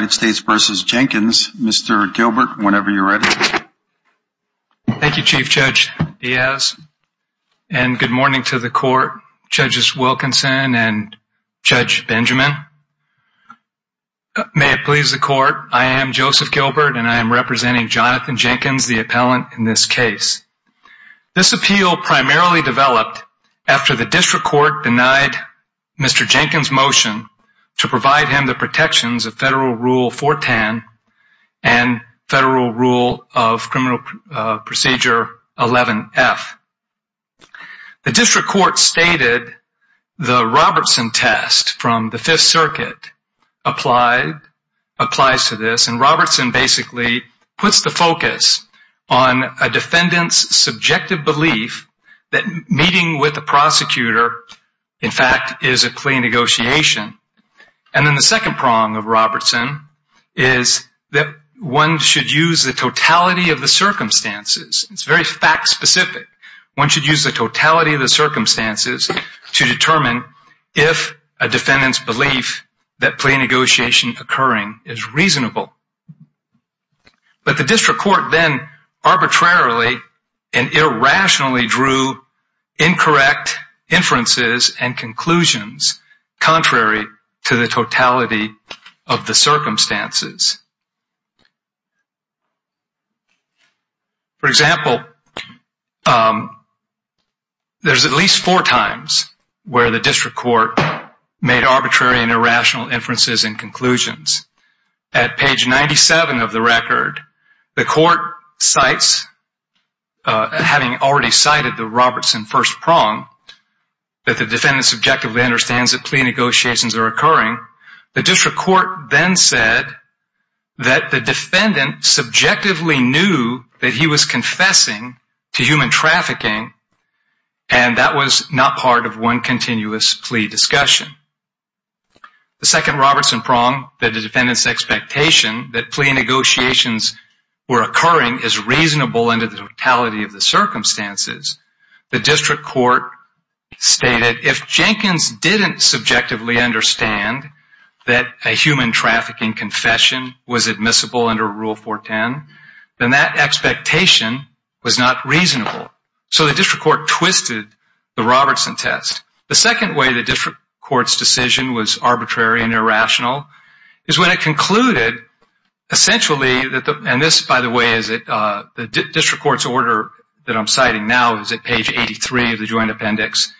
vs. Jenkins, Mr. Gilbert, whenever you're ready. Thank you, Chief Judge Diaz, and good morning to the Court, Judges Wilkinson and Judge Benjamin. May it please the Court, I am Joseph Gilbert and I am representing Jonathan Jenkins, the appellant in this case. This appeal primarily developed after the District Court denied Mr. Jenkins' motion to provide him the protections of federal Rule 410 and federal Rule of Criminal Procedure 11F. The District Court stated the Robertson test from the Fifth Circuit applies to this and Robertson basically puts the focus on a defendant's subjective belief that meeting with the prosecutor, in fact, is a clean negotiation. And then the second prong of Robertson is that one should use the totality of the circumstances. It's very fact-specific. One should use the totality of the circumstances to determine if a defendant's belief that plain negotiation occurring is reasonable. But the District Court then arbitrarily and irrationally drew incorrect inferences and conclusions contrary to the totality of the circumstances. For example, there's at least four times where the District Court made arbitrary and irrational inferences and conclusions. At page 97 of the Robertson first prong, that the defendant subjectively understands that plea negotiations are occurring, the District Court then said that the defendant subjectively knew that he was confessing to human trafficking and that was not part of one continuous plea discussion. The second Robertson prong, that the defendant's expectation that plea negotiations were occurring is that the District Court stated if Jenkins didn't subjectively understand that a human trafficking confession was admissible under Rule 410, then that expectation was not reasonable. So the District Court twisted the Robertson test. The second way the District Court's decision was arbitrary and irrational is when it concluded, essentially, and this, by the way, is the District Court's I'm citing now is at page 83 of the Joint Appendix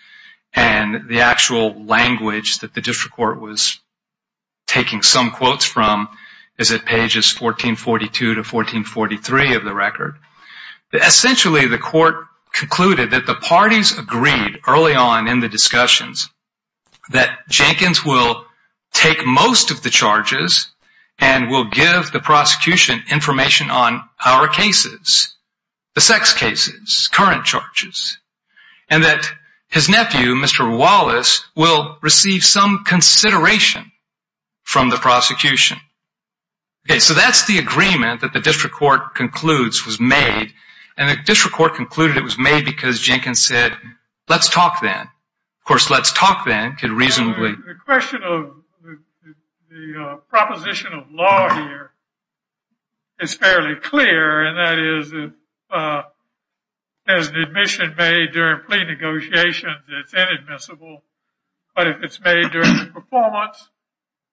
and the actual language that the District Court was taking some quotes from is at pages 1442 to 1443 of the record. Essentially, the court concluded that the parties agreed early on in the discussions that Jenkins will take most of the charges and will give the prosecution information on our cases, the sex cases, current charges, and that his nephew, Mr. Wallace, will receive some consideration from the prosecution. Okay, so that's the agreement that the District Court concludes was made and the District Court concluded it was made because Jenkins said let's talk then. Of It's fairly clear and that is if there's an admission made during plea negotiations, it's inadmissible. But if it's made during the performance,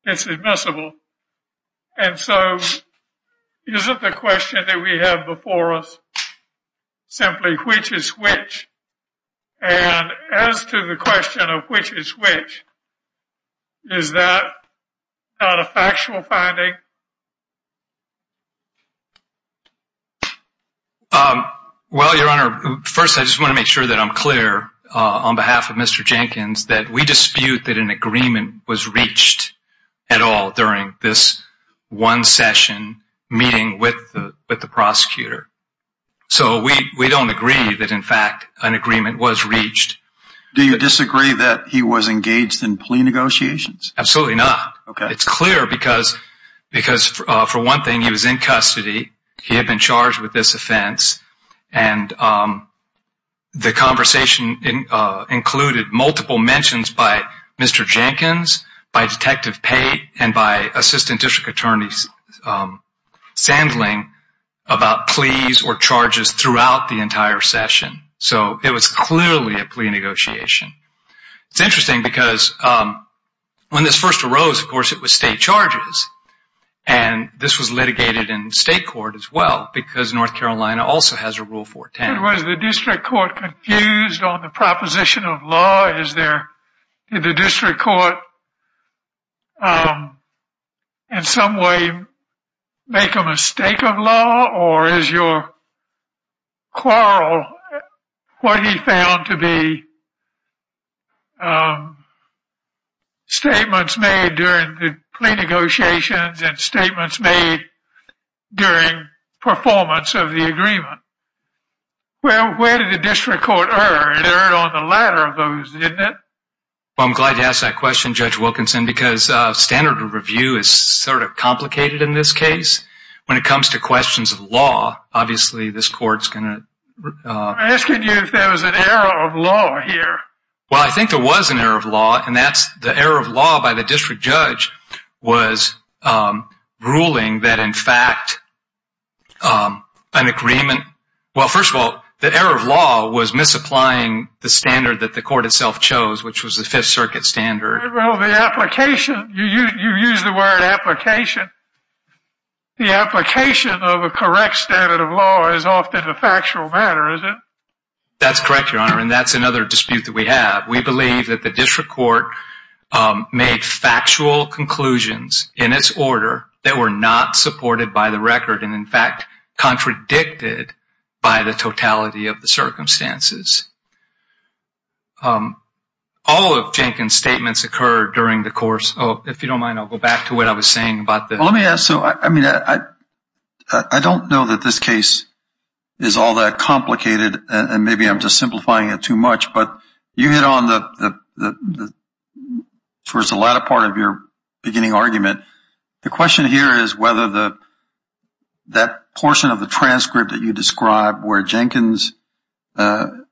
it's admissible. And so isn't the question that we have before us simply which is which? And as to the question of which is which, is that not a factual finding? Well, Your Honor, first, I just want to make sure that I'm clear on behalf of Mr. Jenkins that we dispute that an agreement was reached at all during this one agreement was reached. Do you disagree that he was engaged in plea negotiations? Absolutely not. It's clear because for one thing, he was in custody. He had been charged with this offense and the conversation included multiple mentions by Mr. Jenkins, by Detective Pate, and by Assistant District Attorney Sandling about pleas or charges throughout the entire session. So it was clearly a plea negotiation. It's interesting because when this first arose, of course, it was state charges. And this was litigated in state court as well because North Carolina also has a Rule 410. Was the District Court confused on the proposition of law? Did the District Court confuse the proposition of law? Or is your quarrel what he found to be statements made during the plea negotiations and statements made during performance of the agreement? Well, where did the District Court err? It erred on the latter of those, didn't it? Well, I'm glad you asked that question, Judge Wilkinson, because standard of questions of law, obviously, this court's going to... I'm asking you if there was an error of law here. Well, I think there was an error of law, and that's the error of law by the District Judge was ruling that, in fact, an agreement... Well, first of all, the error of law was misapplying the standard that the court itself chose, which was the Fifth Circuit standard. Well, the application... You used the word application. The application of a correct standard of law is often a factual matter, is it? That's correct, Your Honor, and that's another dispute that we have. We believe that the District Court made factual conclusions in its order that were not supported by the record and, in fact, contradicted by the totality of the during the course of... If you don't mind, I'll go back to what I was saying about the... Well, let me ask... So, I mean, I don't know that this case is all that complicated, and maybe I'm just simplifying it too much, but you hit on the... Towards the latter part of your beginning argument, the question here is whether that portion of the transcript that you described where Jenkins...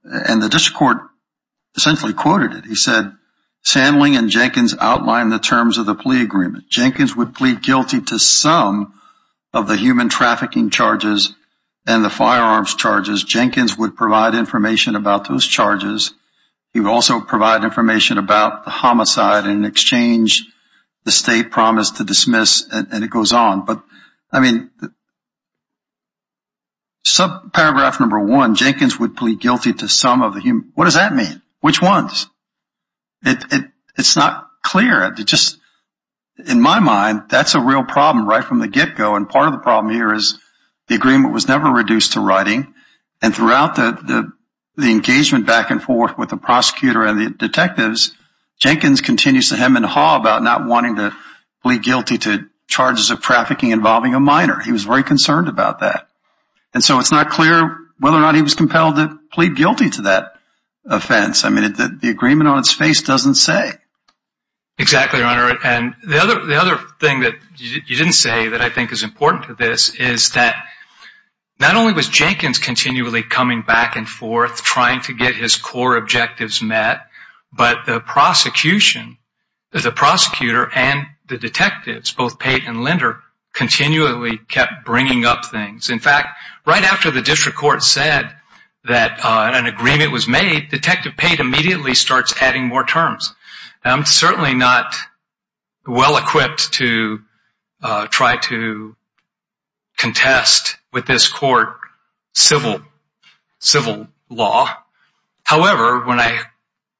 And the District Court essentially quoted it. He said, Sandling and Jenkins outlined the terms of the plea agreement. Jenkins would plead guilty to some of the human trafficking charges and the firearms charges. Jenkins would provide information about those charges. He would also provide information about the homicide in exchange the state promised to dismiss, and it goes on. But, I mean, subparagraph number one, Jenkins would plead guilty to some of the human... What does that mean? Which ones? It's not clear. It just... In my mind, that's a real problem right from the get-go, and part of the problem here is the agreement was never reduced to writing, and throughout the engagement back and forth with the prosecutor and the detectives, Jenkins continues to hem and haw about not wanting to plead guilty to charges of trafficking involving a minor. He was very concerned about that, and so it's not clear whether or not he was compelled to plead guilty to that offense. I mean, the agreement on its face doesn't say. Exactly, Your Honor, and the other thing that you didn't say that I think is important to this is that not only was Jenkins continually coming back and forth trying to get his core objectives met, but the prosecution, the prosecutor and the detectives, both Pate and Linder, continually kept bringing up things. In fact, right after the district court said that an agreement was made, Detective Pate immediately starts adding more terms. I'm certainly not well-equipped to try to contest with this court civil law. However, when I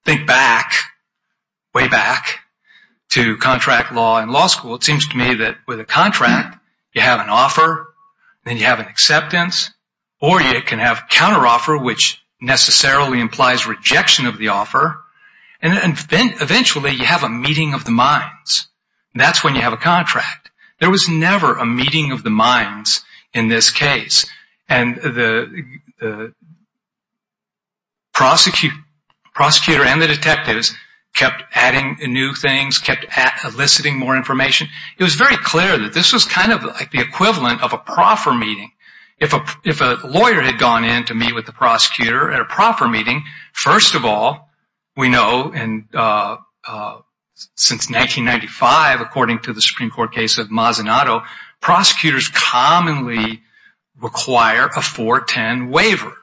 think back, way back, to contract law in law school, it seems to me that with a contract, you have an offer, then you have an acceptance, or you can have counteroffer, which necessarily implies rejection of the offer, and then, eventually, you have a meeting of the minds. That's when you have a contract. There was never a meeting of the minds in this case, and the prosecutor and the detectives kept adding new things, kept eliciting more information. It was very clear that this was kind of like the equivalent of a proffer meeting. If a lawyer had gone in to meet with the prosecutor at a proffer meeting, first of all, we know since 1995, according to the Supreme Court case of Mazzanato, prosecutors commonly require a 410 waiver.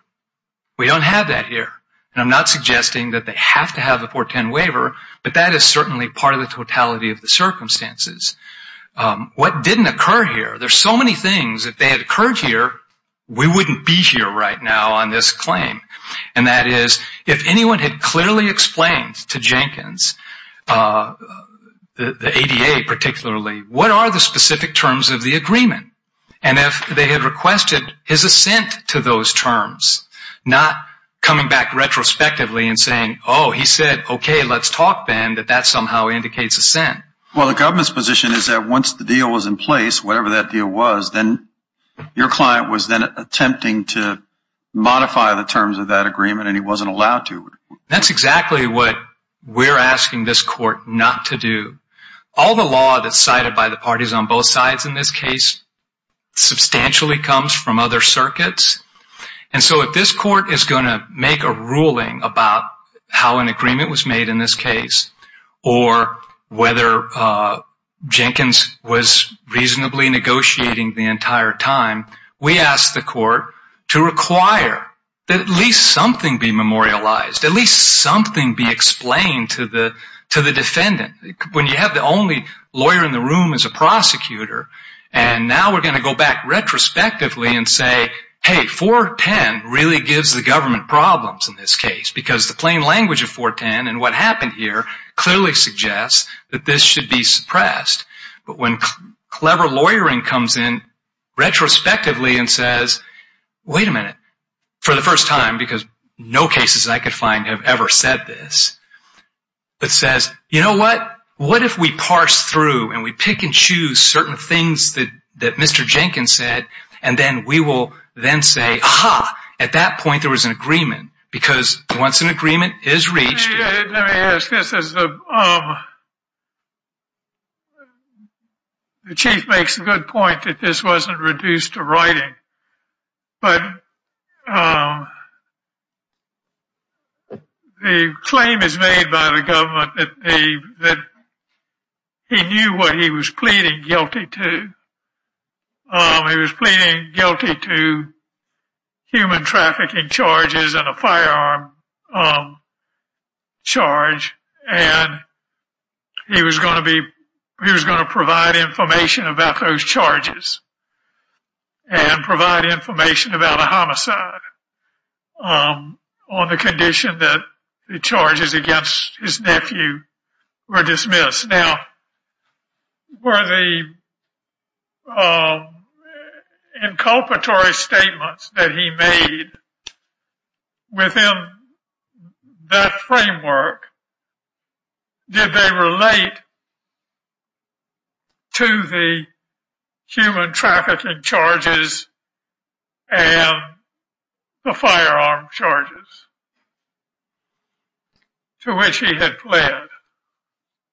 We don't have that here, and I'm not suggesting that they have to have a 410 waiver, but that is certainly part of the totality of the circumstances. What didn't occur here? There's so many things. If they had occurred here, we wouldn't be here right now on this claim, and that is, if anyone had clearly explained to Jenkins, the ADA particularly, what are the specific terms of the agreement, and if they had requested his assent to those terms, not coming back retrospectively and saying, oh, he said, okay, let's talk, Ben, that that somehow indicates assent. Well, the government's position is that once the deal was in place, whatever that deal was, then your client was then attempting to modify the terms of that agreement, and he wasn't allowed to. That's exactly what we're asking this court not to do. All the law that's cited by the parties on both sides in this case substantially comes from other circuits, and so if this court is going to make a ruling about how an agreement was made in this case or whether Jenkins was reasonably negotiating the entire time, we ask the court to require that at least something be memorialized, at least something be explained to the defendant. When you have the only lawyer in the room is a prosecutor, and now we're going to go back retrospectively and say, hey, 410 really gives the government problems in this case, because the plain language of 410 and what happened here clearly suggests that this should be suppressed. But when clever lawyering comes in retrospectively and says, wait a minute, for the first time, because no cases I could find have ever said this, but says, you know what, what if we parse through and we pick and choose certain things that Mr. Jenkins said, and then we can say, at that point, there was an agreement, because once an agreement is reached... Let me ask this. The chief makes a good point that this wasn't reduced to writing, but the claim is made by the government that he knew what he was pleading guilty to human trafficking charges and a firearm charge, and he was going to provide information about those charges, and provide information about a homicide on the condition that the charges against his nephew were inculpatory statements that he made within that framework. Did they relate to the human trafficking charges and the firearm charges to which he had pled?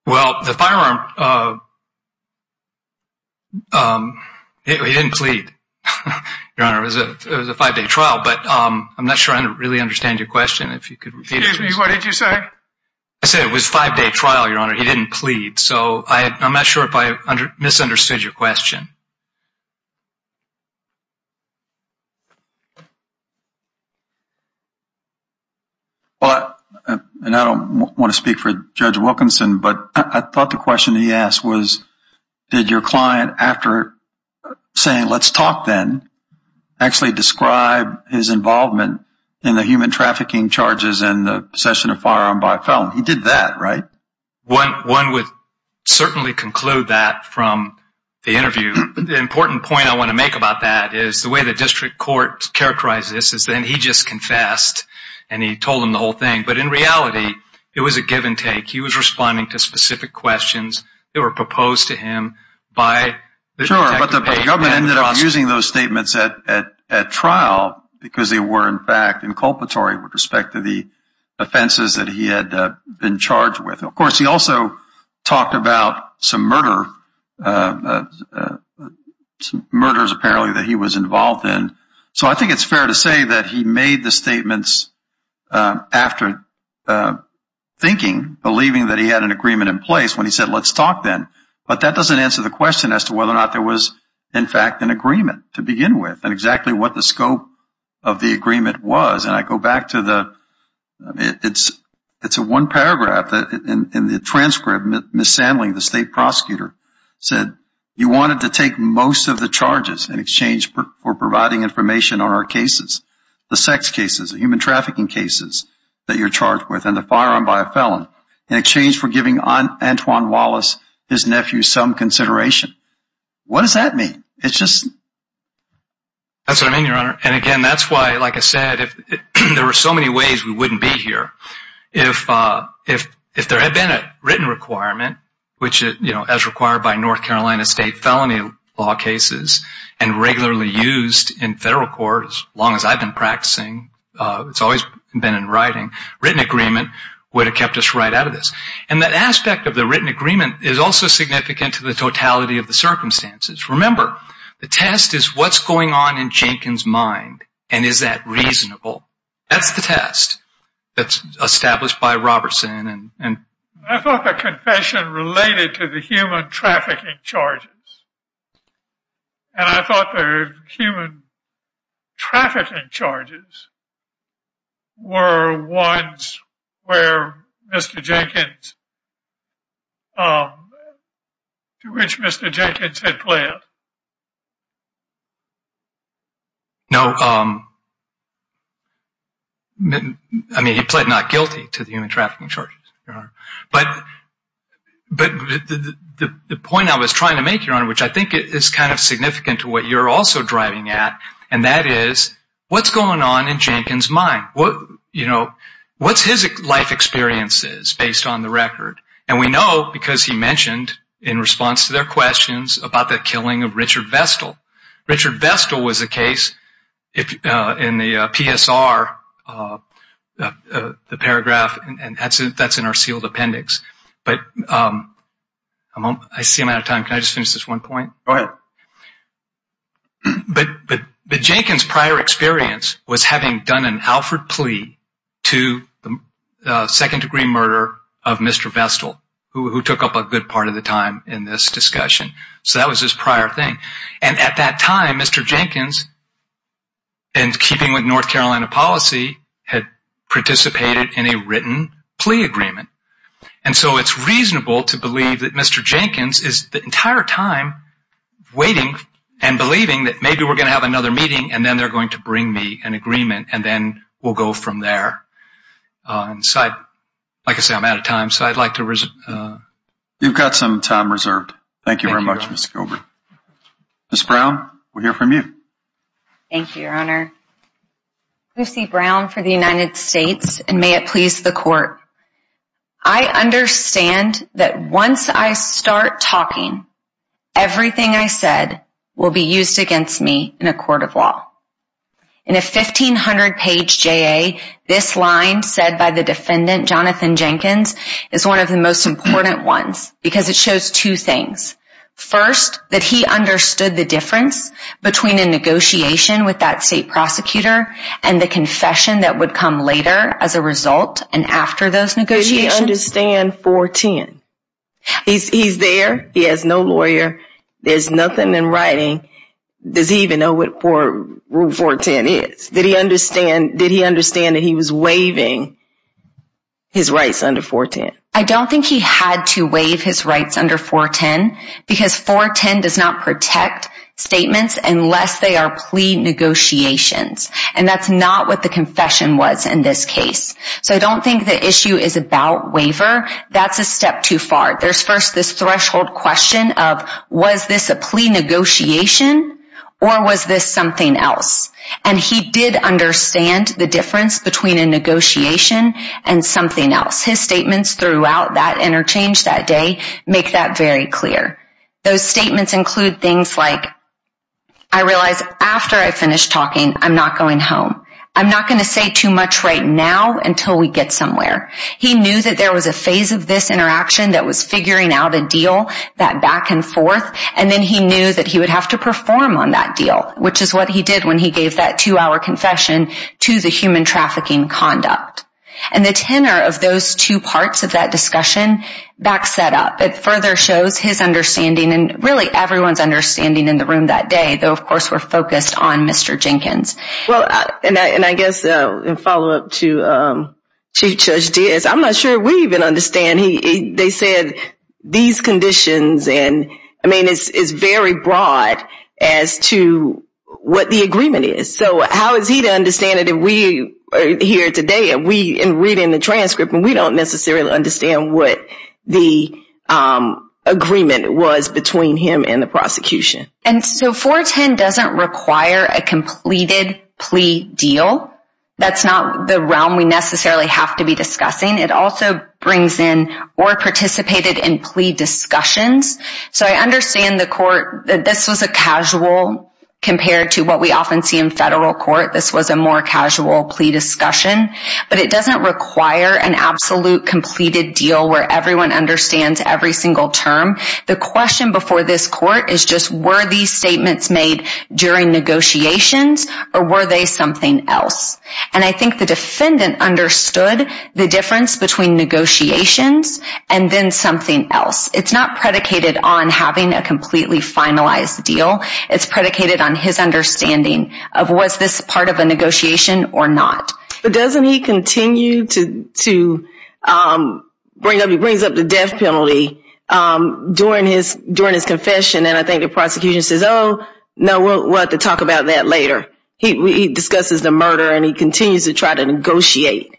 Well, the firearm... He didn't plead, Your Honor. It was a five-day trial, but I'm not sure I really understand your question. Excuse me, what did you say? I said it was a five-day trial, Your Honor. He didn't plead, so I'm not sure if I misunderstood your question. Well, and I don't want to speak for Judge Wilkinson, but I thought the question he asked was, did your client, after saying, let's talk then, actually describe his involvement in the human trafficking charges and the possession of a firearm by a felon? He did that, right? One would certainly conclude that from the interview, but the important point I want to make about that is the way the district court characterized this is that he just confessed, and he told them the whole thing, but in reality, it was a give-and-take. He was responding to specific questions that were proposed to him by the detective. But the government ended up using those statements at trial because they were, in fact, inculpatory with respect to the offenses that he had been charged with. Of course, he also talked about some murders, apparently, that he was involved in. So I think it's fair to say that he made the statements after thinking, believing that he had an agreement in place when he said, let's talk then. But that doesn't answer the question as to whether or not there was, in fact, an agreement to begin with and exactly what the scope of the agreement was. And I go back to the one paragraph in the transcript. Ms. Sandling, the state prosecutor, said, you wanted to take most of the charges in exchange for providing information on our cases, the sex cases, the human trafficking cases that you're charged with, and the firearm by a felon, in exchange for giving Antoine Wallace, his nephew, some consideration. What does that mean? That's what I mean, Your Honor. And again, that's why, like I said, there are so many ways we wouldn't be here. If there had been a written requirement, as required by North Carolina state felony law cases and regularly used in federal court, as long as I've been practicing, it's always been in writing, written agreement would have kept us right out of this. And that aspect of the written agreement is also significant to the totality of the circumstances. Remember, the test is what's going on in Jenkins' mind. And is that reasonable? That's the test that's established by Robertson. And I thought the confession related to the human trafficking charges. And I thought the human trafficking charges were ones where Mr. Jenkins, to which Mr. Jenkins had pled. No. I mean, he pled not guilty to the human trafficking charges, Your Honor. But the point I was trying to make, Your Honor, which I think is kind of significant to what you're also driving at, and that is, what's going on in Jenkins' mind? What's his life experiences based on the record? And we know because he mentioned in response to their questions about the killing of Richard Vestal. Richard Vestal was the case in the PSR, the paragraph, and that's in our sealed appendix. But Jenkins' prior experience was having done an Alfred plea to the second degree murder of Mr. Vestal, who took up a good part of the time in this discussion. So that was his prior thing. And at that time, Mr. Jenkins, in keeping with North Carolina policy, had participated in a written plea agreement. And so it's reasonable to believe that Mr. Jenkins is the entire time waiting and believing that maybe we're going to have another meeting and then they're going to bring me an agreement and then we'll go from there. Like I said, I'm out of time, so I'd like to reserve. You've got some time reserved. Thank you very much, Mr. Gilbert. Ms. Brown, we'll hear from you. Thank you, Your Honor. Lucy Brown for the United States, and may it please the Court. I understand that once I start talking, everything I said will be used against me in a court of law. In a 1,500-page JA, this line said by the defendant, Jonathan Jenkins, is one of the most important ones because it shows two things. First, that he understood the difference between a negotiation with that state prosecutor and the confession that would come later as a result and after those negotiations. Did he understand 410? He's there. He has no lawyer. There's nothing in writing. Does he even know what Rule 410 is? Did he understand that he was waiving his rights under 410? I don't think he had to waive his rights under 410 because 410 does not protect statements unless they are plea negotiations, and that's not what the confession was in this case. So I don't think the issue is about waiver. That's a step too far. There's first this threshold question of was this a plea negotiation or was this something else? And he did understand the difference between a negotiation and something else. His statements throughout that interchange that day make that very clear. Those statements include things like, I realize after I finish talking I'm not going home. I'm not going to say too much right now until we get somewhere. He knew that there was a phase of this interaction that was figuring out a deal, that back and forth, and then he knew that he would have to perform on that deal, which is what he did when he gave that two-hour confession to the human trafficking conduct. And the tenor of those two parts of that discussion back set up. It further shows his understanding and really everyone's understanding in the room that day, though of course we're focused on Mr. Jenkins. And I guess in follow-up to Chief Judge Diaz, I'm not sure we even understand. They said these conditions and I mean it's very broad as to what the agreement is. So how is he to understand it if we are here today and reading the transcript and we don't necessarily understand what the agreement was between him and the prosecution? And so 410 doesn't require a completed plea deal. That's not the realm we necessarily have to be discussing. It also brings in or participated in plea discussions. So I understand the court that this was a casual compared to what we often see in federal court. This was a more casual plea discussion, but it doesn't require an absolute completed deal where everyone understands every single term. The question before this court is just were these statements made during negotiations or were they something else? And I think the defendant understood the difference between negotiations and then something else. It's not predicated on having a completely finalized deal. It's predicated on his understanding of was this part of a negotiation or not. But doesn't he continue to bring up the death penalty during his confession and I think the prosecution says, oh, no, we'll have to talk about that later. He discusses the murder and he continues to try to negotiate.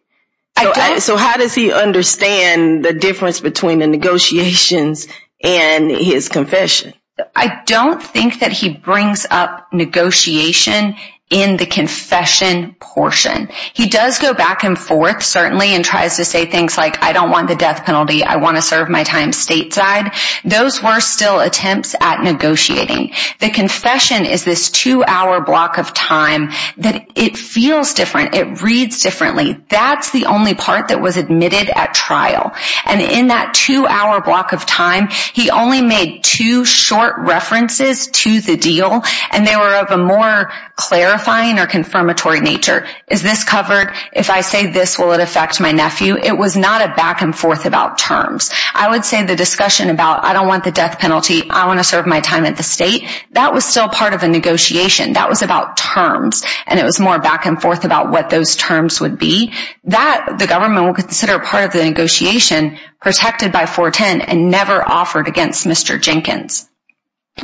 So how does he understand the difference between the negotiations and his confession? I don't think that he brings up negotiation in the confession portion. He does go back and forth, certainly, and tries to say things like I don't want the death penalty. I want to serve my time stateside. Those were still attempts at negotiating. The confession is this two hour block of time that it feels different. It reads differently. That's the only part that was admitted at trial and in that two hour block of time, he only made two short references to the deal and they were of a more clarifying or confirmatory nature. Is this covered? If I say this, will it affect my nephew? It was not a back and forth about terms. I would say the discussion about I don't want the death penalty. I want to serve my time at the state. That was still part of a negotiation. That was about terms and it was more back and forth about what those terms would be. The government will consider part of the negotiation protected by 410 and never offered against Mr. Jenkins.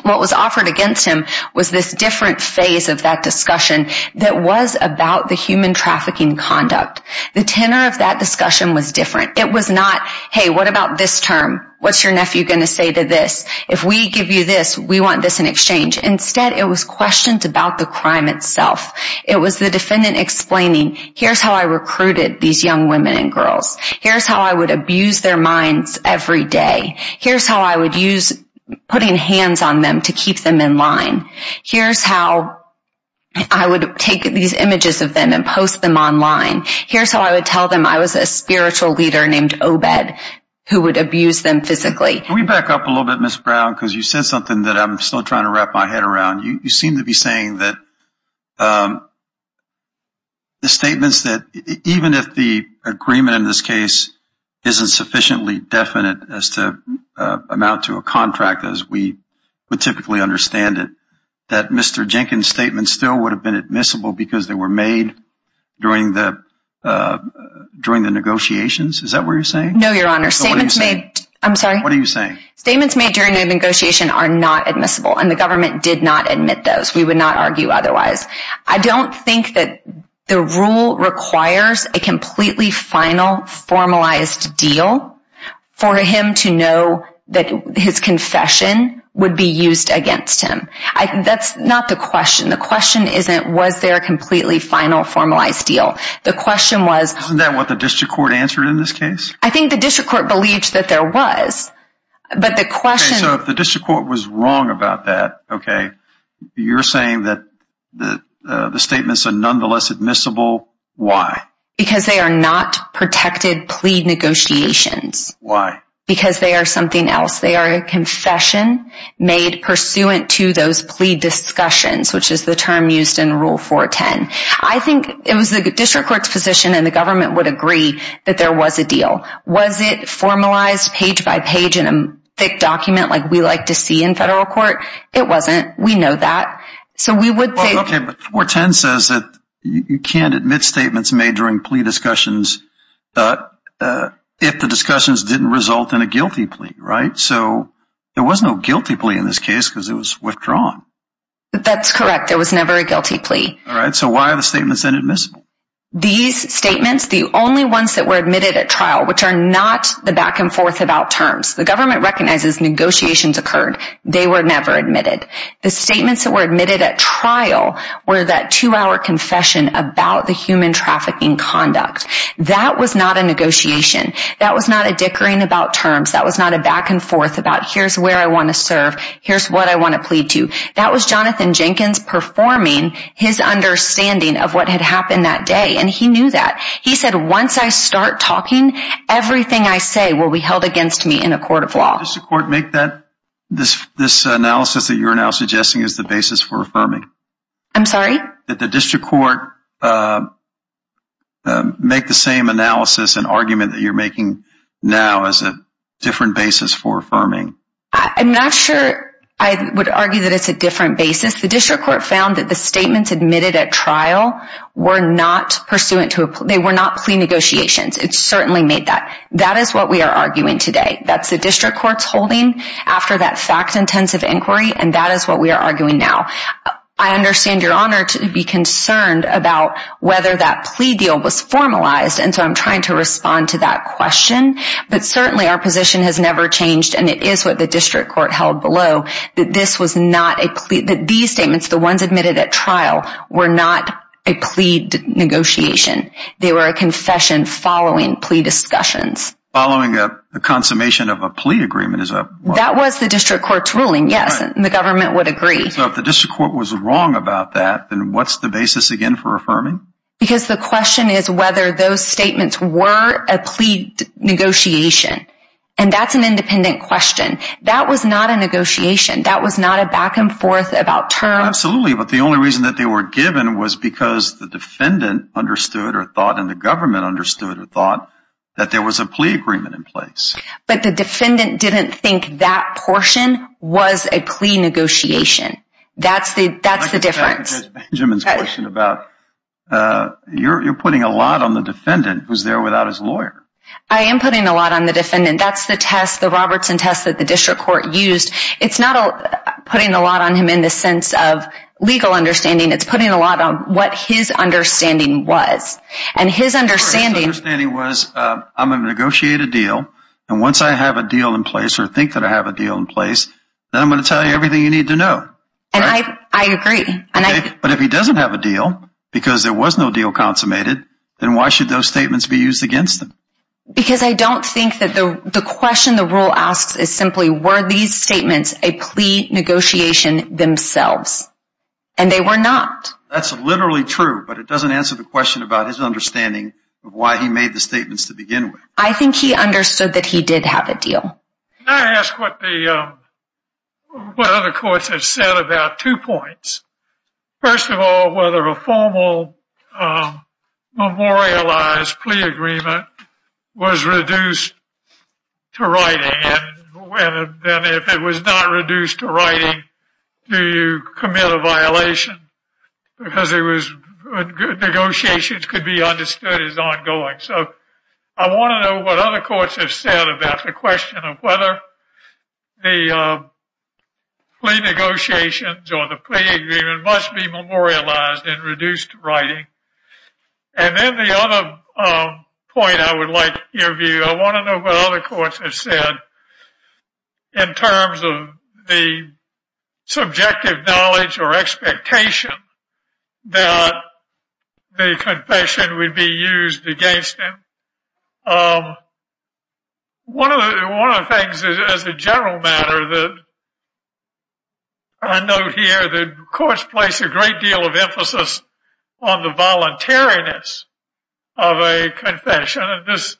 What was offered against him was this different phase of that discussion that was about the human trafficking conduct. The tenor of that discussion was different. It was not, hey, what about this term? What's your nephew going to say to this? If we give you this, we want this in exchange. Instead, it was questions about the crime itself. It was the defendant explaining, here's how I recruited these young women and girls. Here's how I would abuse their minds every day. Here's how I would use putting hands on them to keep them in line. Here's how I would take these images of them and post them online. Here's how I would tell them I was a spiritual leader named Obed who would abuse them physically. Can we back up a little bit, Ms. Brown, because you said something that I'm still trying to wrap my head around. You seem to be saying that the statements that even if the agreement in this case isn't sufficiently definite as to amount to a contract, as we would typically understand it, that Mr. Jenkins' statements still would have been admissible because they were made during the negotiations. Is that what you're saying? No, Your Honor. I'm sorry? What are you saying? Statements made during the negotiation are not admissible, and the government did not admit those. We would not argue otherwise. I don't think that the rule requires a completely final, formalized deal for him to know that his confession would be used against him. That's not the question. The question isn't was there a completely final, formalized deal. The question was… Isn't that what the district court answered in this case? I think the district court believed that there was, but the question… Okay, so if the district court was wrong about that, okay, you're saying that the statements are nonetheless admissible. Why? Because they are not protected plea negotiations. Why? Because they are something else. They are a confession made pursuant to those plea discussions, which is the term used in Rule 410. I think it was the district court's position, and the government would agree that there was a deal. Was it formalized page by page in a thick document like we like to see in federal court? It wasn't. We know that. So we would think… Okay, but 410 says that you can't admit statements made during plea discussions if the discussions didn't result in a guilty plea, right? So there was no guilty plea in this case because it was withdrawn. That's correct. There was never a guilty plea. All right, so why are the statements inadmissible? These statements, the only ones that were admitted at trial, which are not the back-and-forth about terms. The government recognizes negotiations occurred. They were never admitted. The statements that were admitted at trial were that two-hour confession about the human trafficking conduct. That was not a negotiation. That was not a dickering about terms. That was not a back-and-forth about here's where I want to serve, here's what I want to plead to. That was Jonathan Jenkins performing his understanding of what had happened that day, and he knew that. He said, once I start talking, everything I say will be held against me in a court of law. Did the district court make this analysis that you're now suggesting as the basis for affirming? I'm sorry? Did the district court make the same analysis and argument that you're making now as a different basis for affirming? I'm not sure I would argue that it's a different basis. The district court found that the statements admitted at trial were not pursuant to a plea. They were not plea negotiations. It certainly made that. That is what we are arguing today. That's the district court's holding after that fact-intensive inquiry, and that is what we are arguing now. I understand your honor to be concerned about whether that plea deal was formalized, and so I'm trying to respond to that question. But certainly our position has never changed, and it is what the district court held below. These statements, the ones admitted at trial, were not a plea negotiation. They were a confession following plea discussions. Following a consummation of a plea agreement? That was the district court's ruling, yes, and the government would agree. So if the district court was wrong about that, then what's the basis again for affirming? Because the question is whether those statements were a plea negotiation, and that's an independent question. That was not a negotiation. That was not a back-and-forth about terms. Absolutely, but the only reason that they were given was because the defendant understood or thought, and the government understood or thought, that there was a plea agreement in place. But the defendant didn't think that portion was a plea negotiation. That's the difference. You're putting a lot on the defendant who's there without his lawyer. I am putting a lot on the defendant. That's the test, the Robertson test that the district court used. It's not putting a lot on him in the sense of legal understanding. It's putting a lot on what his understanding was, and his understanding was, I'm going to negotiate a deal, and once I have a deal in place or think that I have a deal in place, then I'm going to tell you everything you need to know. And I agree. But if he doesn't have a deal, because there was no deal consummated, then why should those statements be used against him? Because I don't think that the question the rule asks is simply, were these statements a plea negotiation themselves? And they were not. That's literally true, but it doesn't answer the question about his understanding of why he made the statements to begin with. I think he understood that he did have a deal. Can I ask what other courts have said about two points? First of all, whether a formal memorialized plea agreement was reduced to writing, and if it was not reduced to writing, do you commit a violation? Because negotiations could be understood as ongoing. So I want to know what other courts have said about the question of whether the plea negotiations or the plea agreement must be memorialized and reduced to writing. And then the other point I would like to review, I want to know what other courts have said in terms of the subjective knowledge or expectation that the confession would be used against him. One of the things as a general matter that I note here, the courts place a great deal of emphasis on the voluntariness of a confession, and this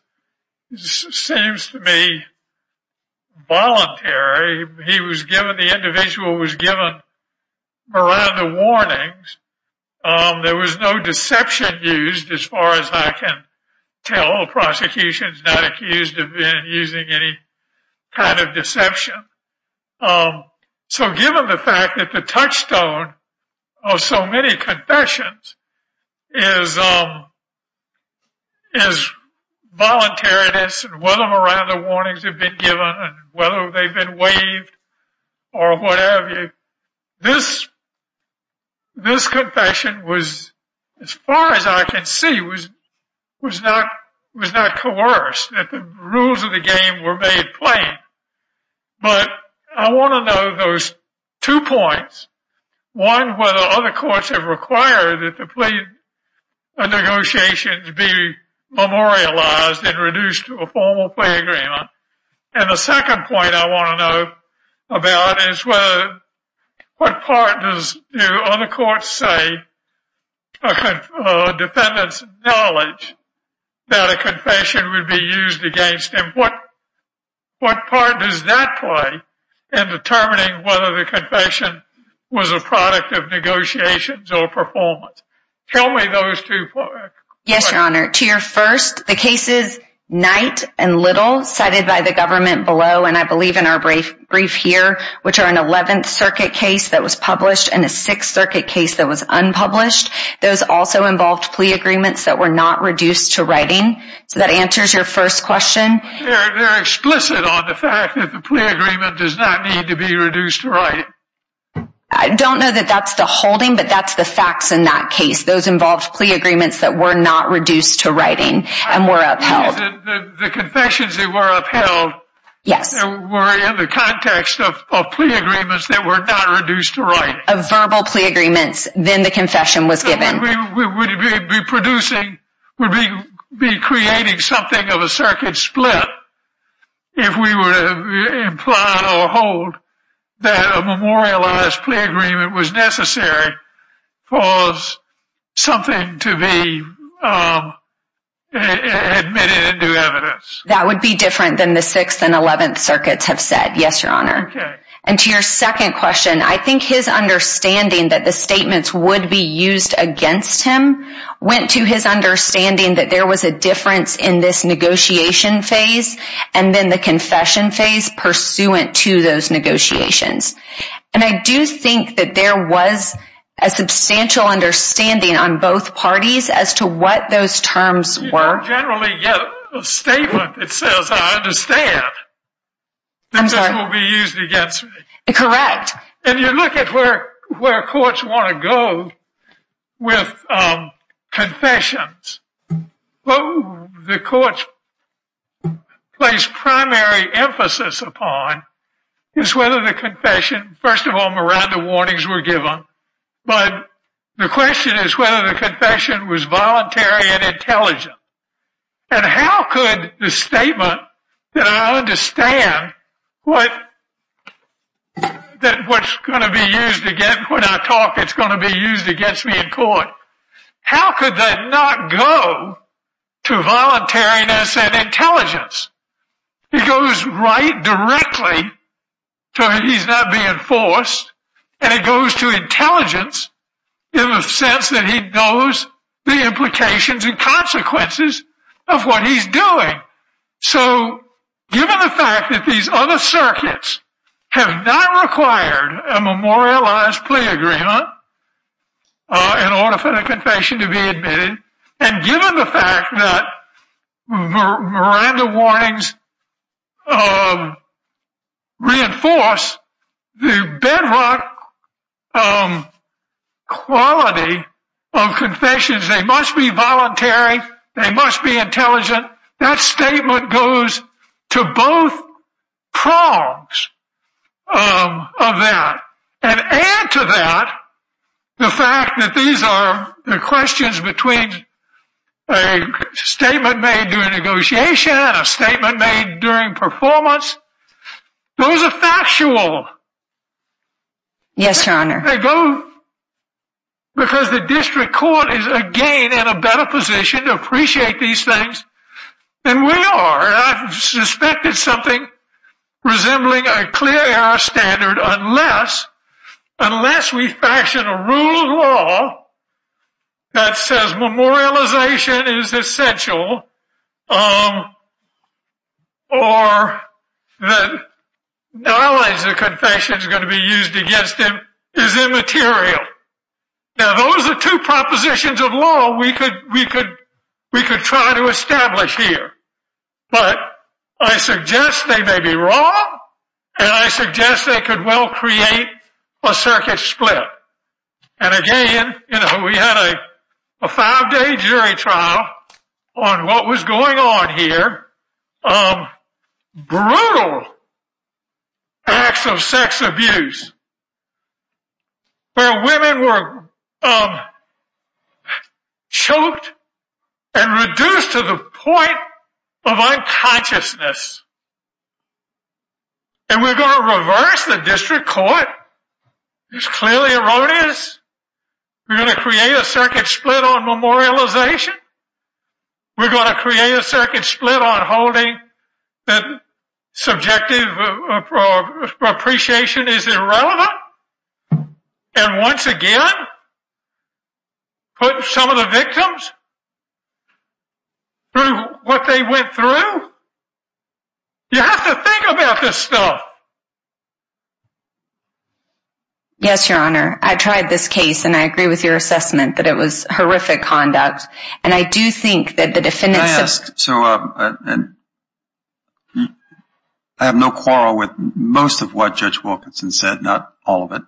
seems to me voluntary. He was given, the individual was given Miranda warnings. There was no deception used as far as I can tell. The prosecution is not accused of using any kind of deception. So given the fact that the touchstone of so many confessions is voluntariness and whether Miranda warnings have been given and whether they've been waived or what have you, this confession was, as far as I can see, was not coerced. The rules of the game were made plain. But I want to know those two points. One, whether other courts have required that the plea negotiations be memorialized and reduced to a formal plea agreement. And the second point I want to know about is what part does other courts say a defendant's knowledge that a confession would be used against him, what part does that play in determining whether the confession was a product of negotiations or performance? Tell me those two points. Yes, Your Honor. To your first, the cases Knight and Little cited by the government below, and I believe in our brief here, which are an 11th Circuit case that was published and a 6th Circuit case that was unpublished. Those also involved plea agreements that were not reduced to writing. So that answers your first question. They're explicit on the fact that the plea agreement does not need to be reduced to writing. I don't know that that's the holding, but that's the facts in that case. Those involved plea agreements that were not reduced to writing and were upheld. The confessions that were upheld were in the context of plea agreements that were not reduced to writing. Of verbal plea agreements. Then the confession was given. We would be creating something of a circuit split if we were to imply or hold that a memorialized plea agreement was necessary for something to be admitted into evidence. That would be different than the 6th and 11th Circuits have said. Yes, Your Honor. Okay. And to your second question, I think his understanding that the statements would be used against him went to his understanding that there was a difference in this negotiation phase and then the confession phase pursuant to those negotiations. And I do think that there was a substantial understanding on both parties as to what those terms were. You don't generally get a statement that says, I understand. I'm sorry. This will be used against me. Correct. And you look at where courts want to go with confessions. What the courts place primary emphasis upon is whether the confession, first of all, Miranda warnings were given. But the question is whether the confession was voluntary and intelligent. And how could the statement that I understand what's going to be used against me in court, how could that not go to voluntariness and intelligence? It goes right directly to he's not being forced. And it goes to intelligence in the sense that he knows the implications and consequences of what he's doing. So given the fact that these other circuits have not required a memorialized plea agreement in order for the confession to be admitted, and given the fact that Miranda warnings reinforce the bedrock quality of confessions, they must be voluntary, they must be intelligent. That statement goes to both prongs of that. And add to that the fact that these are the questions between a statement made during negotiation and a statement made during performance. Those are factual. Yes, Your Honor. Because the district court is, again, in a better position to appreciate these things than we are. I've suspected something resembling a clear error standard unless we fashion a rule of law that says memorialization is essential, or that knowledge of confession is going to be used against him is immaterial. Now, those are two propositions of law we could try to establish here. But I suggest they may be wrong, and I suggest they could well create a circuit split. And again, we had a five-day jury trial on what was going on here. Brutal acts of sex abuse where women were choked and reduced to the point of unconsciousness. And we're going to reverse the district court? It's clearly erroneous. We're going to create a circuit split on memorialization? We're going to create a circuit split on holding that subjective appreciation is irrelevant? And once again, put some of the victims through what they went through? You have to think about this stuff. Yes, Your Honor. I tried this case, and I agree with your assessment that it was horrific conduct. I have no quarrel with most of what Judge Wilkinson said, not all of it.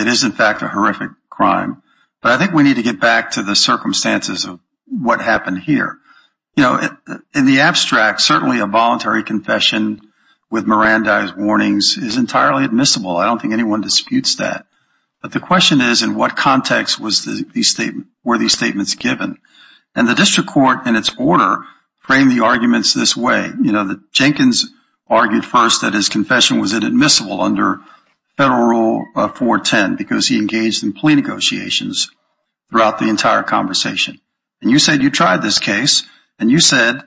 It is, in fact, a horrific crime. But I think we need to get back to the circumstances of what happened here. In the abstract, certainly a voluntary confession with Mirandized warnings is entirely admissible. I don't think anyone disputes that. But the question is, in what context were these statements given? And the district court, in its order, framed the arguments this way. Jenkins argued first that his confession was inadmissible under Federal Rule 410 because he engaged in plea negotiations throughout the entire conversation. And you said you tried this case, and you said,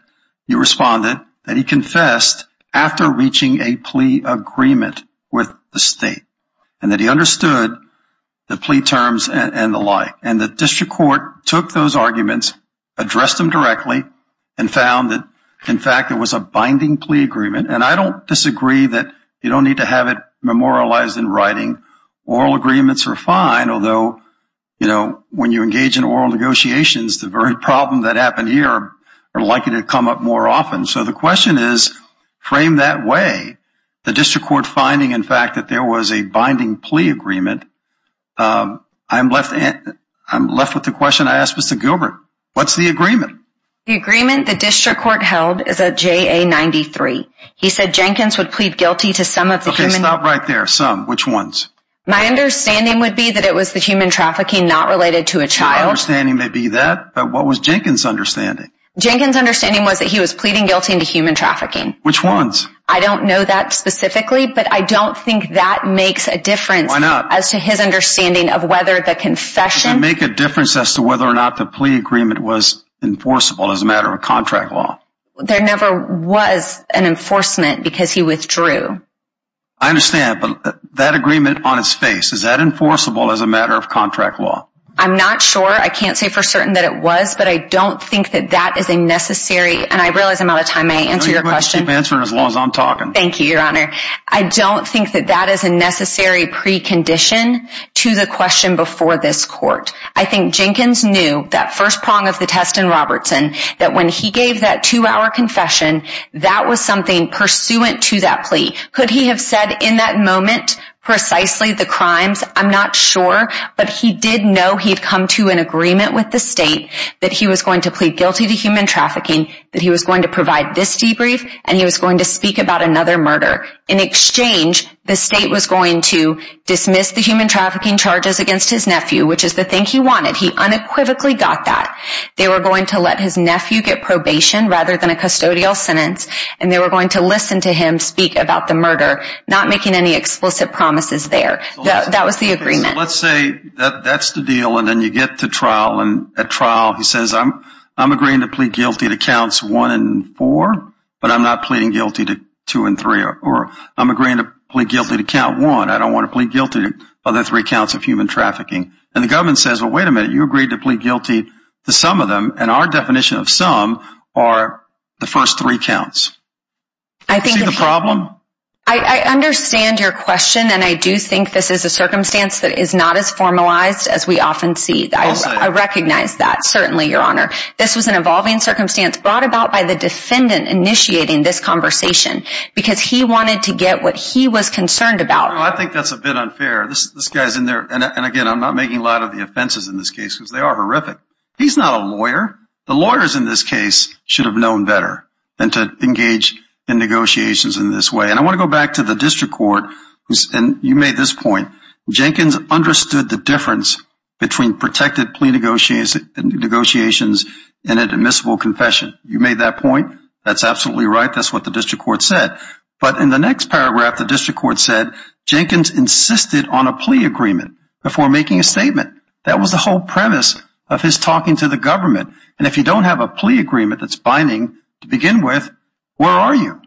you responded, that he confessed after reaching a plea agreement with the state and that he understood the plea terms and the like. And the district court took those arguments, addressed them directly, and found that, in fact, it was a binding plea agreement. And I don't disagree that you don't need to have it memorialized in writing. Oral agreements are fine, although, you know, when you engage in oral negotiations, the very problems that happened here are likely to come up more often. So the question is, frame that way, the district court finding, in fact, that there was a binding plea agreement. I'm left with the question I asked Mr. Gilbert. What's the agreement? The agreement the district court held is a JA-93. He said Jenkins would plead guilty to some of the human trafficking. Okay, stop right there. Some. Which ones? My understanding would be that it was the human trafficking not related to a child. My understanding may be that, but what was Jenkins' understanding? Jenkins' understanding was that he was pleading guilty to human trafficking. Which ones? I don't know that specifically, but I don't think that makes a difference. Why not? As to his understanding of whether the confession. Does it make a difference as to whether or not the plea agreement was enforceable as a matter of contract law? There never was an enforcement because he withdrew. I understand, but that agreement on its face, is that enforceable as a matter of contract law? I'm not sure. I can't say for certain that it was, but I don't think that that is a necessary And I realize I'm out of time. May I answer your question? No, you're going to keep answering as long as I'm talking. Thank you, your honor. I don't think that that is a necessary precondition to the question before this court. I think Jenkins knew that first prong of the test in Robertson, that when he gave that two-hour confession, that was something pursuant to that plea. Could he have said in that moment precisely the crimes? I'm not sure, but he did know he'd come to an agreement with the state that he was going to plead guilty to human trafficking, that he was going to provide this debrief, and he was going to speak about another murder. In exchange, the state was going to dismiss the human trafficking charges against his nephew, which is the thing he wanted. He unequivocally got that. They were going to let his nephew get probation rather than a custodial sentence, and they were going to listen to him speak about the murder, not making any explicit promises there. That was the agreement. Let's say that's the deal, and then you get to trial. At trial, he says, I'm agreeing to plead guilty to counts one and four, but I'm not pleading guilty to two and three, or I'm agreeing to plead guilty to count one. I don't want to plead guilty to other three counts of human trafficking. And the government says, well, wait a minute, you agreed to plead guilty to some of them, and our definition of some are the first three counts. Is that the problem? I understand your question, and I do think this is a circumstance that is not as formalized as we often see. I recognize that, certainly, Your Honor. This was an evolving circumstance brought about by the defendant initiating this conversation because he wanted to get what he was concerned about. I think that's a bit unfair. This guy's in there, and again, I'm not making light of the offenses in this case because they are horrific. He's not a lawyer. The lawyers in this case should have known better than to engage in negotiations in this way. And I want to go back to the district court, and you made this point. Jenkins understood the difference between protected plea negotiations and an admissible confession. You made that point. That's absolutely right. That's what the district court said. But in the next paragraph, the district court said, Jenkins insisted on a plea agreement before making a statement. That was the whole premise of his talking to the government. And if you don't have a plea agreement that's binding to begin with, where are you?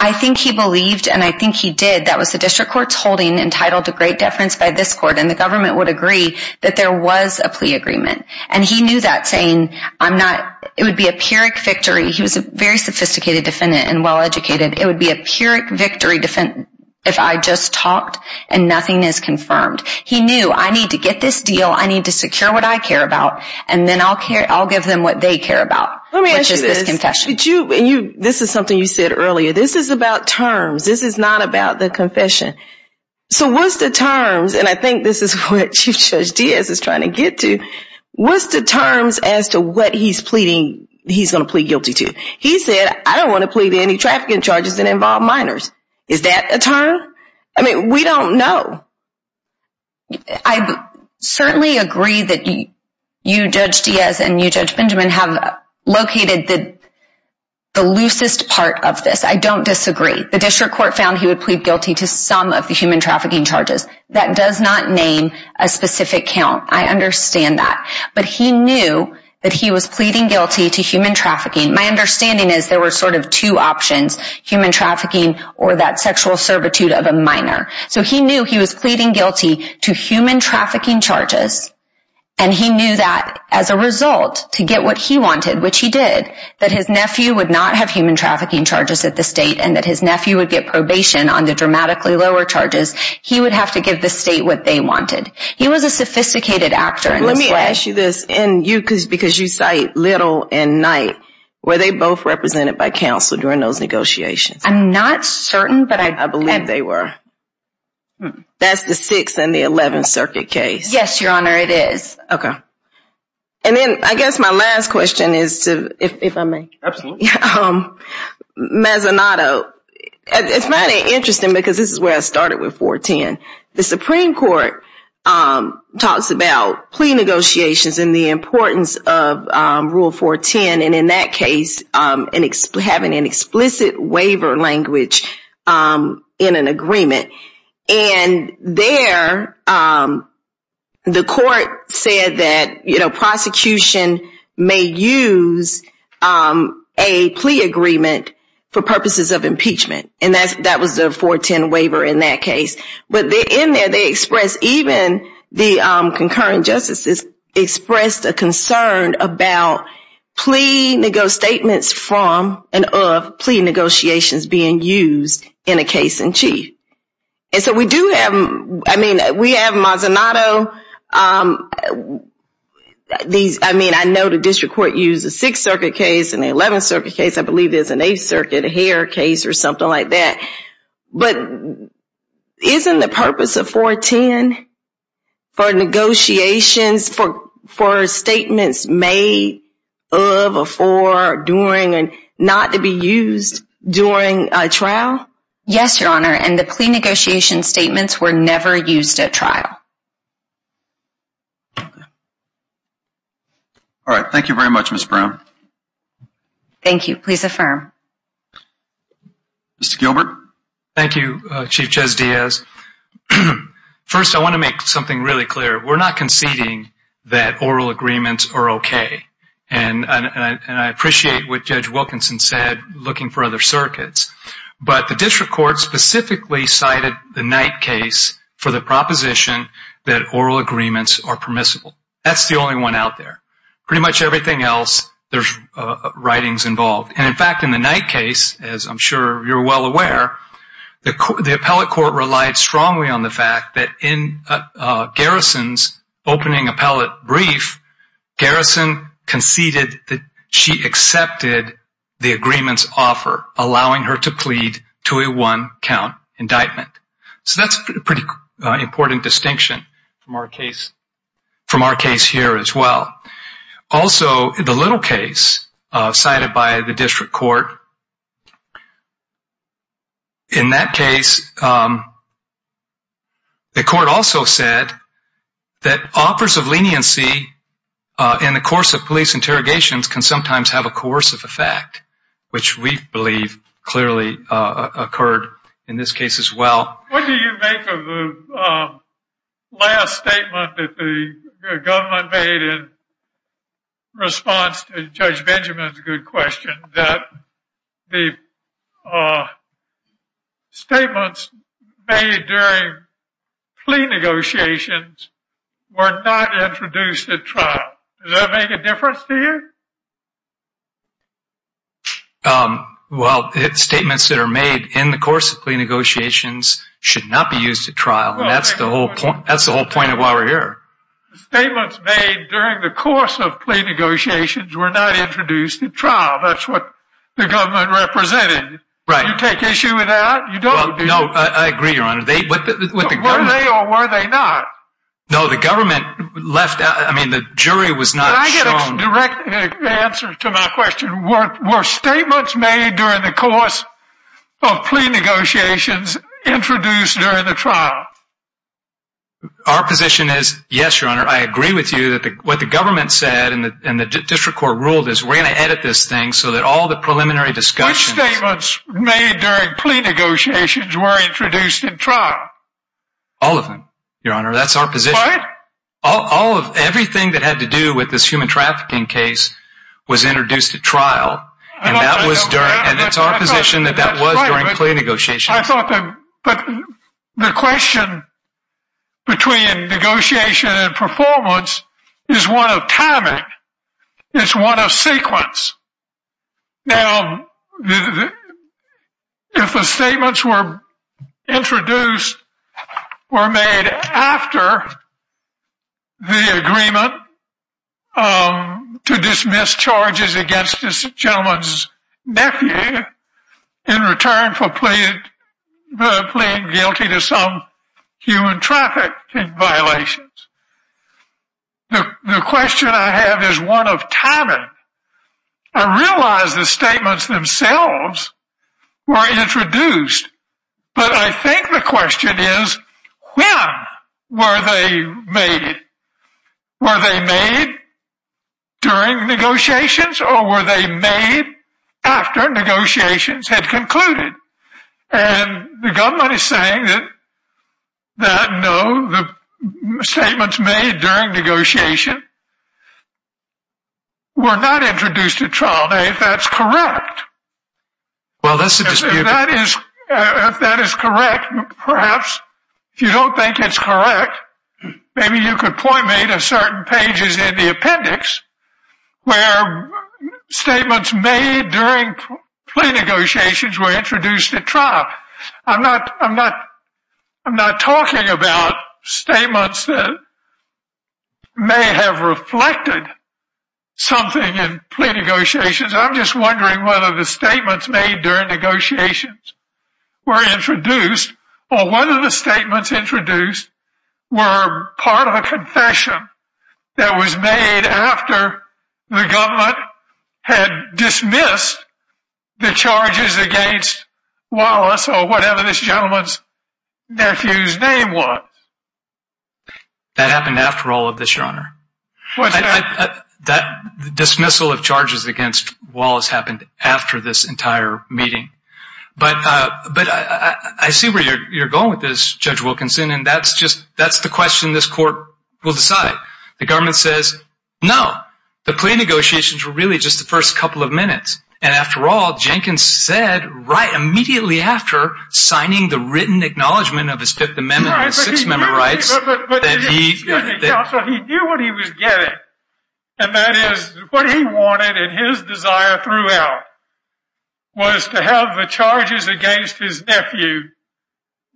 I think he believed, and I think he did. That was the district court's holding entitled to great deference by this court, and the government would agree that there was a plea agreement. And he knew that, saying it would be a Pyrrhic victory. He was a very sophisticated defendant and well-educated. It would be a Pyrrhic victory if I just talked and nothing is confirmed. He knew, I need to get this deal, I need to secure what I care about, and then I'll give them what they care about, which is this confession. Let me ask you this. This is something you said earlier. This is about terms. This is not about the confession. So what's the terms, and I think this is what Chief Judge Diaz is trying to get to, what's the terms as to what he's going to plead guilty to? He said, I don't want to plead any trafficking charges that involve minors. Is that a term? I mean, we don't know. I certainly agree that you, Judge Diaz, and you, Judge Benjamin, have located the loosest part of this. I don't disagree. The district court found he would plead guilty to some of the human trafficking charges. That does not name a specific count. I understand that. But he knew that he was pleading guilty to human trafficking. My understanding is there were sort of two options, human trafficking or that sexual servitude of a minor. So he knew he was pleading guilty to human trafficking charges, and he knew that as a result, to get what he wanted, which he did, that his nephew would not have human trafficking charges at the state and that his nephew would get probation on the dramatically lower charges. He would have to give the state what they wanted. He was a sophisticated actor in this way. Let me ask you this. Because you cite Little and Knight, were they both represented by counsel during those negotiations? I'm not certain, but I believe they were. That's the 6th and the 11th Circuit case? Yes, Your Honor, it is. Okay. And then I guess my last question is to, if I may. Absolutely. Mazinato, it's kind of interesting because this is where I started with 410. The Supreme Court talks about plea negotiations and the importance of Rule 410, and in that case having an explicit waiver language in an agreement. And there the court said that, you know, prosecution may use a plea agreement for purposes of impeachment, and that was the 410 waiver in that case. But in there they expressed, even the concurrent justices expressed a concern about plea negotiations being used in a case in chief. And so we do have, I mean, we have Mazinato. I mean, I know the district court used a 6th Circuit case and an 11th Circuit case, I believe there's an 8th Circuit hair case or something like that. But isn't the purpose of 410 for negotiations, for statements made of or for or during or not to be used during a trial? Yes, Your Honor, and the plea negotiation statements were never used at trial. All right, thank you very much, Ms. Brown. Thank you. Please affirm. Mr. Gilbert. Thank you, Chief Ches Diaz. First, I want to make something really clear. We're not conceding that oral agreements are okay. And I appreciate what Judge Wilkinson said, looking for other circuits. But the district court specifically cited the Knight case for the proposition that oral agreements are permissible. That's the only one out there. Pretty much everything else, there's writings involved. And, in fact, in the Knight case, as I'm sure you're well aware, the appellate court relied strongly on the fact that in Garrison's opening appellate brief, Garrison conceded that she accepted the agreement's offer, allowing her to plead to a one-count indictment. So that's a pretty important distinction from our case here as well. Also, the Little case cited by the district court, in that case, the court also said that offers of leniency in the course of police interrogations can sometimes have a coercive effect, which we believe clearly occurred in this case as well. What do you make of the last statement that the government made in response to Judge Benjamin's good question, that the statements made during plea negotiations were not introduced at trial? Does that make a difference to you? Well, statements that are made in the course of plea negotiations should not be used at trial, and that's the whole point of why we're here. Statements made during the course of plea negotiations were not introduced at trial. That's what the government represented. Right. You take issue with that? You don't? No, I agree, Your Honor. Were they or were they not? No, the government left out. I mean, the jury was not shown. Can I get a direct answer to my question? Were statements made during the course of plea negotiations introduced during the trial? Our position is, yes, Your Honor. I agree with you that what the government said and the district court ruled is we're going to edit this thing so that all the preliminary discussions. Which statements made during plea negotiations were introduced at trial? All of them, Your Honor. That's our position. What? Everything that had to do with this human trafficking case was introduced at trial, and it's our position that that was during plea negotiations. But the question between negotiation and performance is one of timing. It's one of sequence. Now, if the statements were introduced or made after the agreement to dismiss charges against this gentleman's nephew in return for pleading guilty to some human trafficking violations, the question I have is one of timing. I realize the statements themselves were introduced, but I think the question is when were they made? Were they made during negotiations or were they made after negotiations had concluded? And the government is saying that no, the statements made during negotiation were not introduced at trial. Now, if that's correct, if that is correct, perhaps, if you don't think it's correct, maybe you could point me to certain pages in the appendix where statements made during plea negotiations were introduced at trial. I'm not talking about statements that may have reflected something in plea negotiations. I'm just wondering whether the statements made during negotiations were introduced or whether the statements introduced were part of a confession that was made after the government had dismissed the charges against Wallace or whatever this gentleman's nephew's name was. That happened after all of this, Your Honor. What's that? The dismissal of charges against Wallace happened after this entire meeting. But I see where you're going with this, Judge Wilkinson, and that's the question this court will decide. The government says, no, the plea negotiations were really just the first couple of minutes. And after all, Jenkins said right immediately after signing the written acknowledgement of his Fifth Amendment and Sixth Amendment rights that he… But, excuse me, Counselor, he knew what he was getting,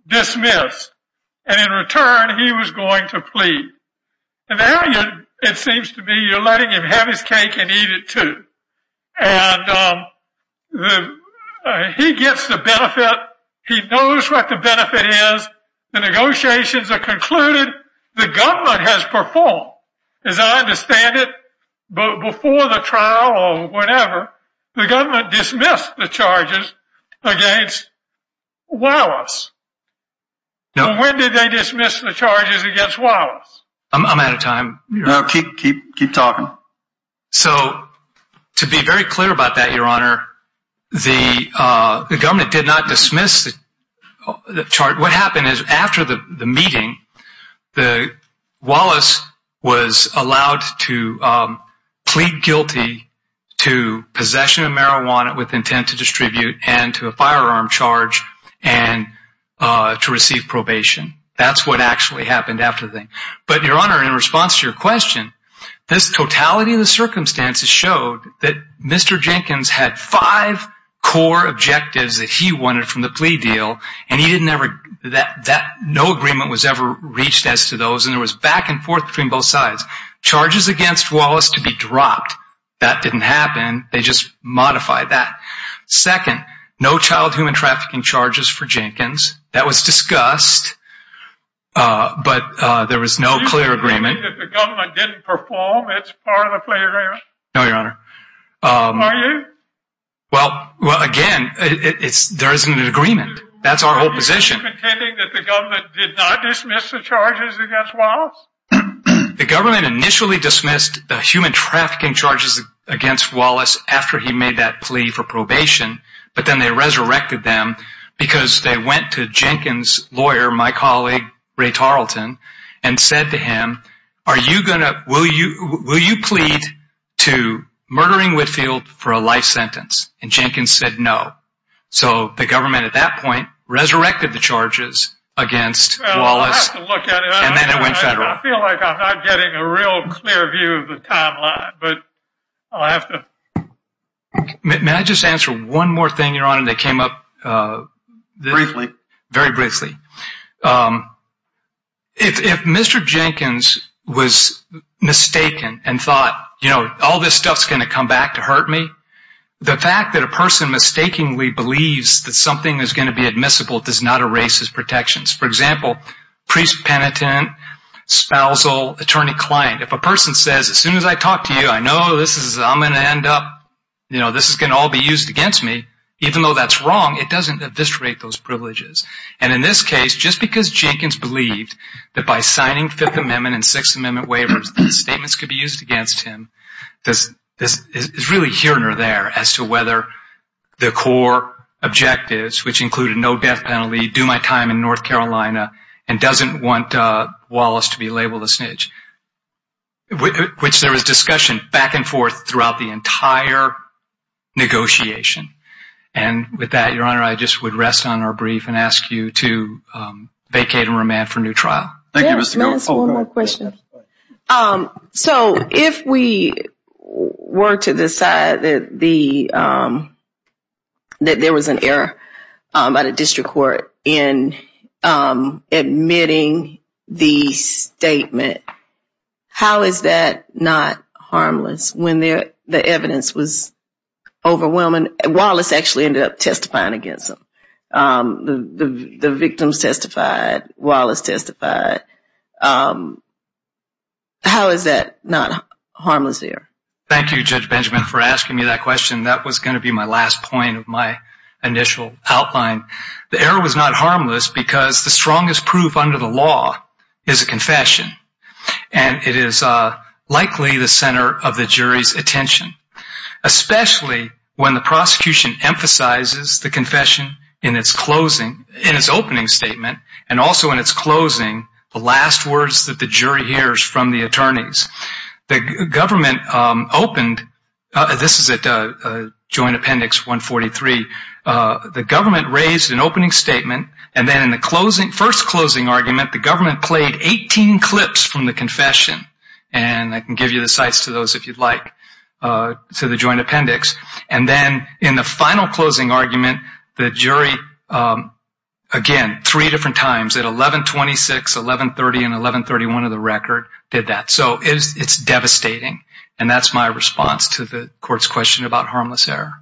dismissed. And in return, he was going to plead. And now it seems to me you're letting him have his cake and eat it too. And he gets the benefit. He knows what the benefit is. The negotiations are concluded. The government has performed. As I understand it, before the trial or whenever, the government dismissed the charges against Wallace. When did they dismiss the charges against Wallace? I'm out of time. Keep talking. So to be very clear about that, Your Honor, the government did not dismiss the charges. What happened is after the meeting, Wallace was allowed to plead guilty to possession of marijuana with intent to distribute and to a firearm charge and to receive probation. That's what actually happened after the thing. But, Your Honor, in response to your question, this totality of the circumstances showed that Mr. Jenkins had five core objectives that he wanted from the plea deal, and no agreement was ever reached as to those. And there was back and forth between both sides. Charges against Wallace to be dropped, that didn't happen. They just modified that. Second, no child human trafficking charges for Jenkins. That was discussed, but there was no clear agreement. Are you saying that the government didn't perform as part of the plea deal? No, Your Honor. Are you? Well, again, there isn't an agreement. That's our whole position. Are you contending that the government did not dismiss the charges against Wallace? The government initially dismissed the human trafficking charges against Wallace after he made that plea for probation, but then they resurrected them because they went to Jenkins' lawyer, my colleague, Ray Tarleton, and said to him, will you plead to murdering Whitfield for a life sentence? And Jenkins said no. So the government at that point resurrected the charges against Wallace and then it went federal. I feel like I'm not getting a real clear view of the timeline, but I'll have to. May I just answer one more thing, Your Honor, that came up very briefly. If Mr. Jenkins was mistaken and thought, you know, all this stuff is going to come back to hurt me, the fact that a person mistakenly believes that something is going to be admissible does not erase his protections. For example, priest, penitent, spousal, attorney, client. If a person says, as soon as I talk to you, I know this is going to end up, you know, this is going to all be used against me, even though that's wrong, it doesn't eviscerate those privileges. And in this case, just because Jenkins believed that by signing Fifth Amendment and Sixth Amendment waivers, statements could be used against him, is really here or there as to whether the core objectives, which included no death penalty, do my time in North Carolina, and doesn't want Wallace to be labeled a snitch, which there was discussion back and forth throughout the entire negotiation. And with that, Your Honor, I just would rest on our brief and ask you to vacate and remand for a new trial. Thank you, Mr. Gold. May I ask one more question? So if we were to decide that there was an error by the district court in admitting the statement, how is that not harmless when the evidence was overwhelming? Wallace actually ended up testifying against them. The victims testified. Wallace testified. How is that not a harmless error? Thank you, Judge Benjamin, for asking me that question. That was going to be my last point of my initial outline. The error was not harmless because the strongest proof under the law is a confession, and it is likely the center of the jury's attention, especially when the prosecution emphasizes the confession in its opening statement and also in its closing, the last words that the jury hears from the attorneys. The government opened. This is at Joint Appendix 143. The government raised an opening statement, and then in the first closing argument, the government played 18 clips from the confession, and I can give you the sites to those if you'd like to the Joint Appendix. And then in the final closing argument, the jury, again, three different times, at 1126, 1130, and 1131 of the record, did that. So it's devastating, and that's my response to the court's question about harmless error.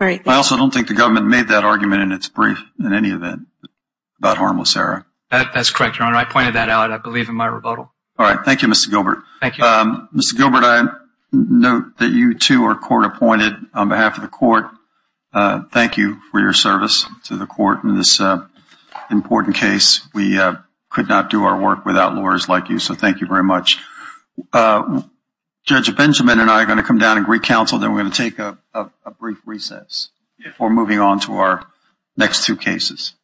I also don't think the government made that argument in its brief in any event about harmless error. That's correct, Your Honor. I pointed that out, I believe, in my rebuttal. All right. Thank you, Mr. Gilbert. Mr. Gilbert, I note that you, too, are court-appointed on behalf of the court. Thank you for your service to the court in this important case. We could not do our work without lawyers like you, so thank you very much. Judge Benjamin and I are going to come down and greet counsel, then we're going to take a brief recess before moving on to our next two cases.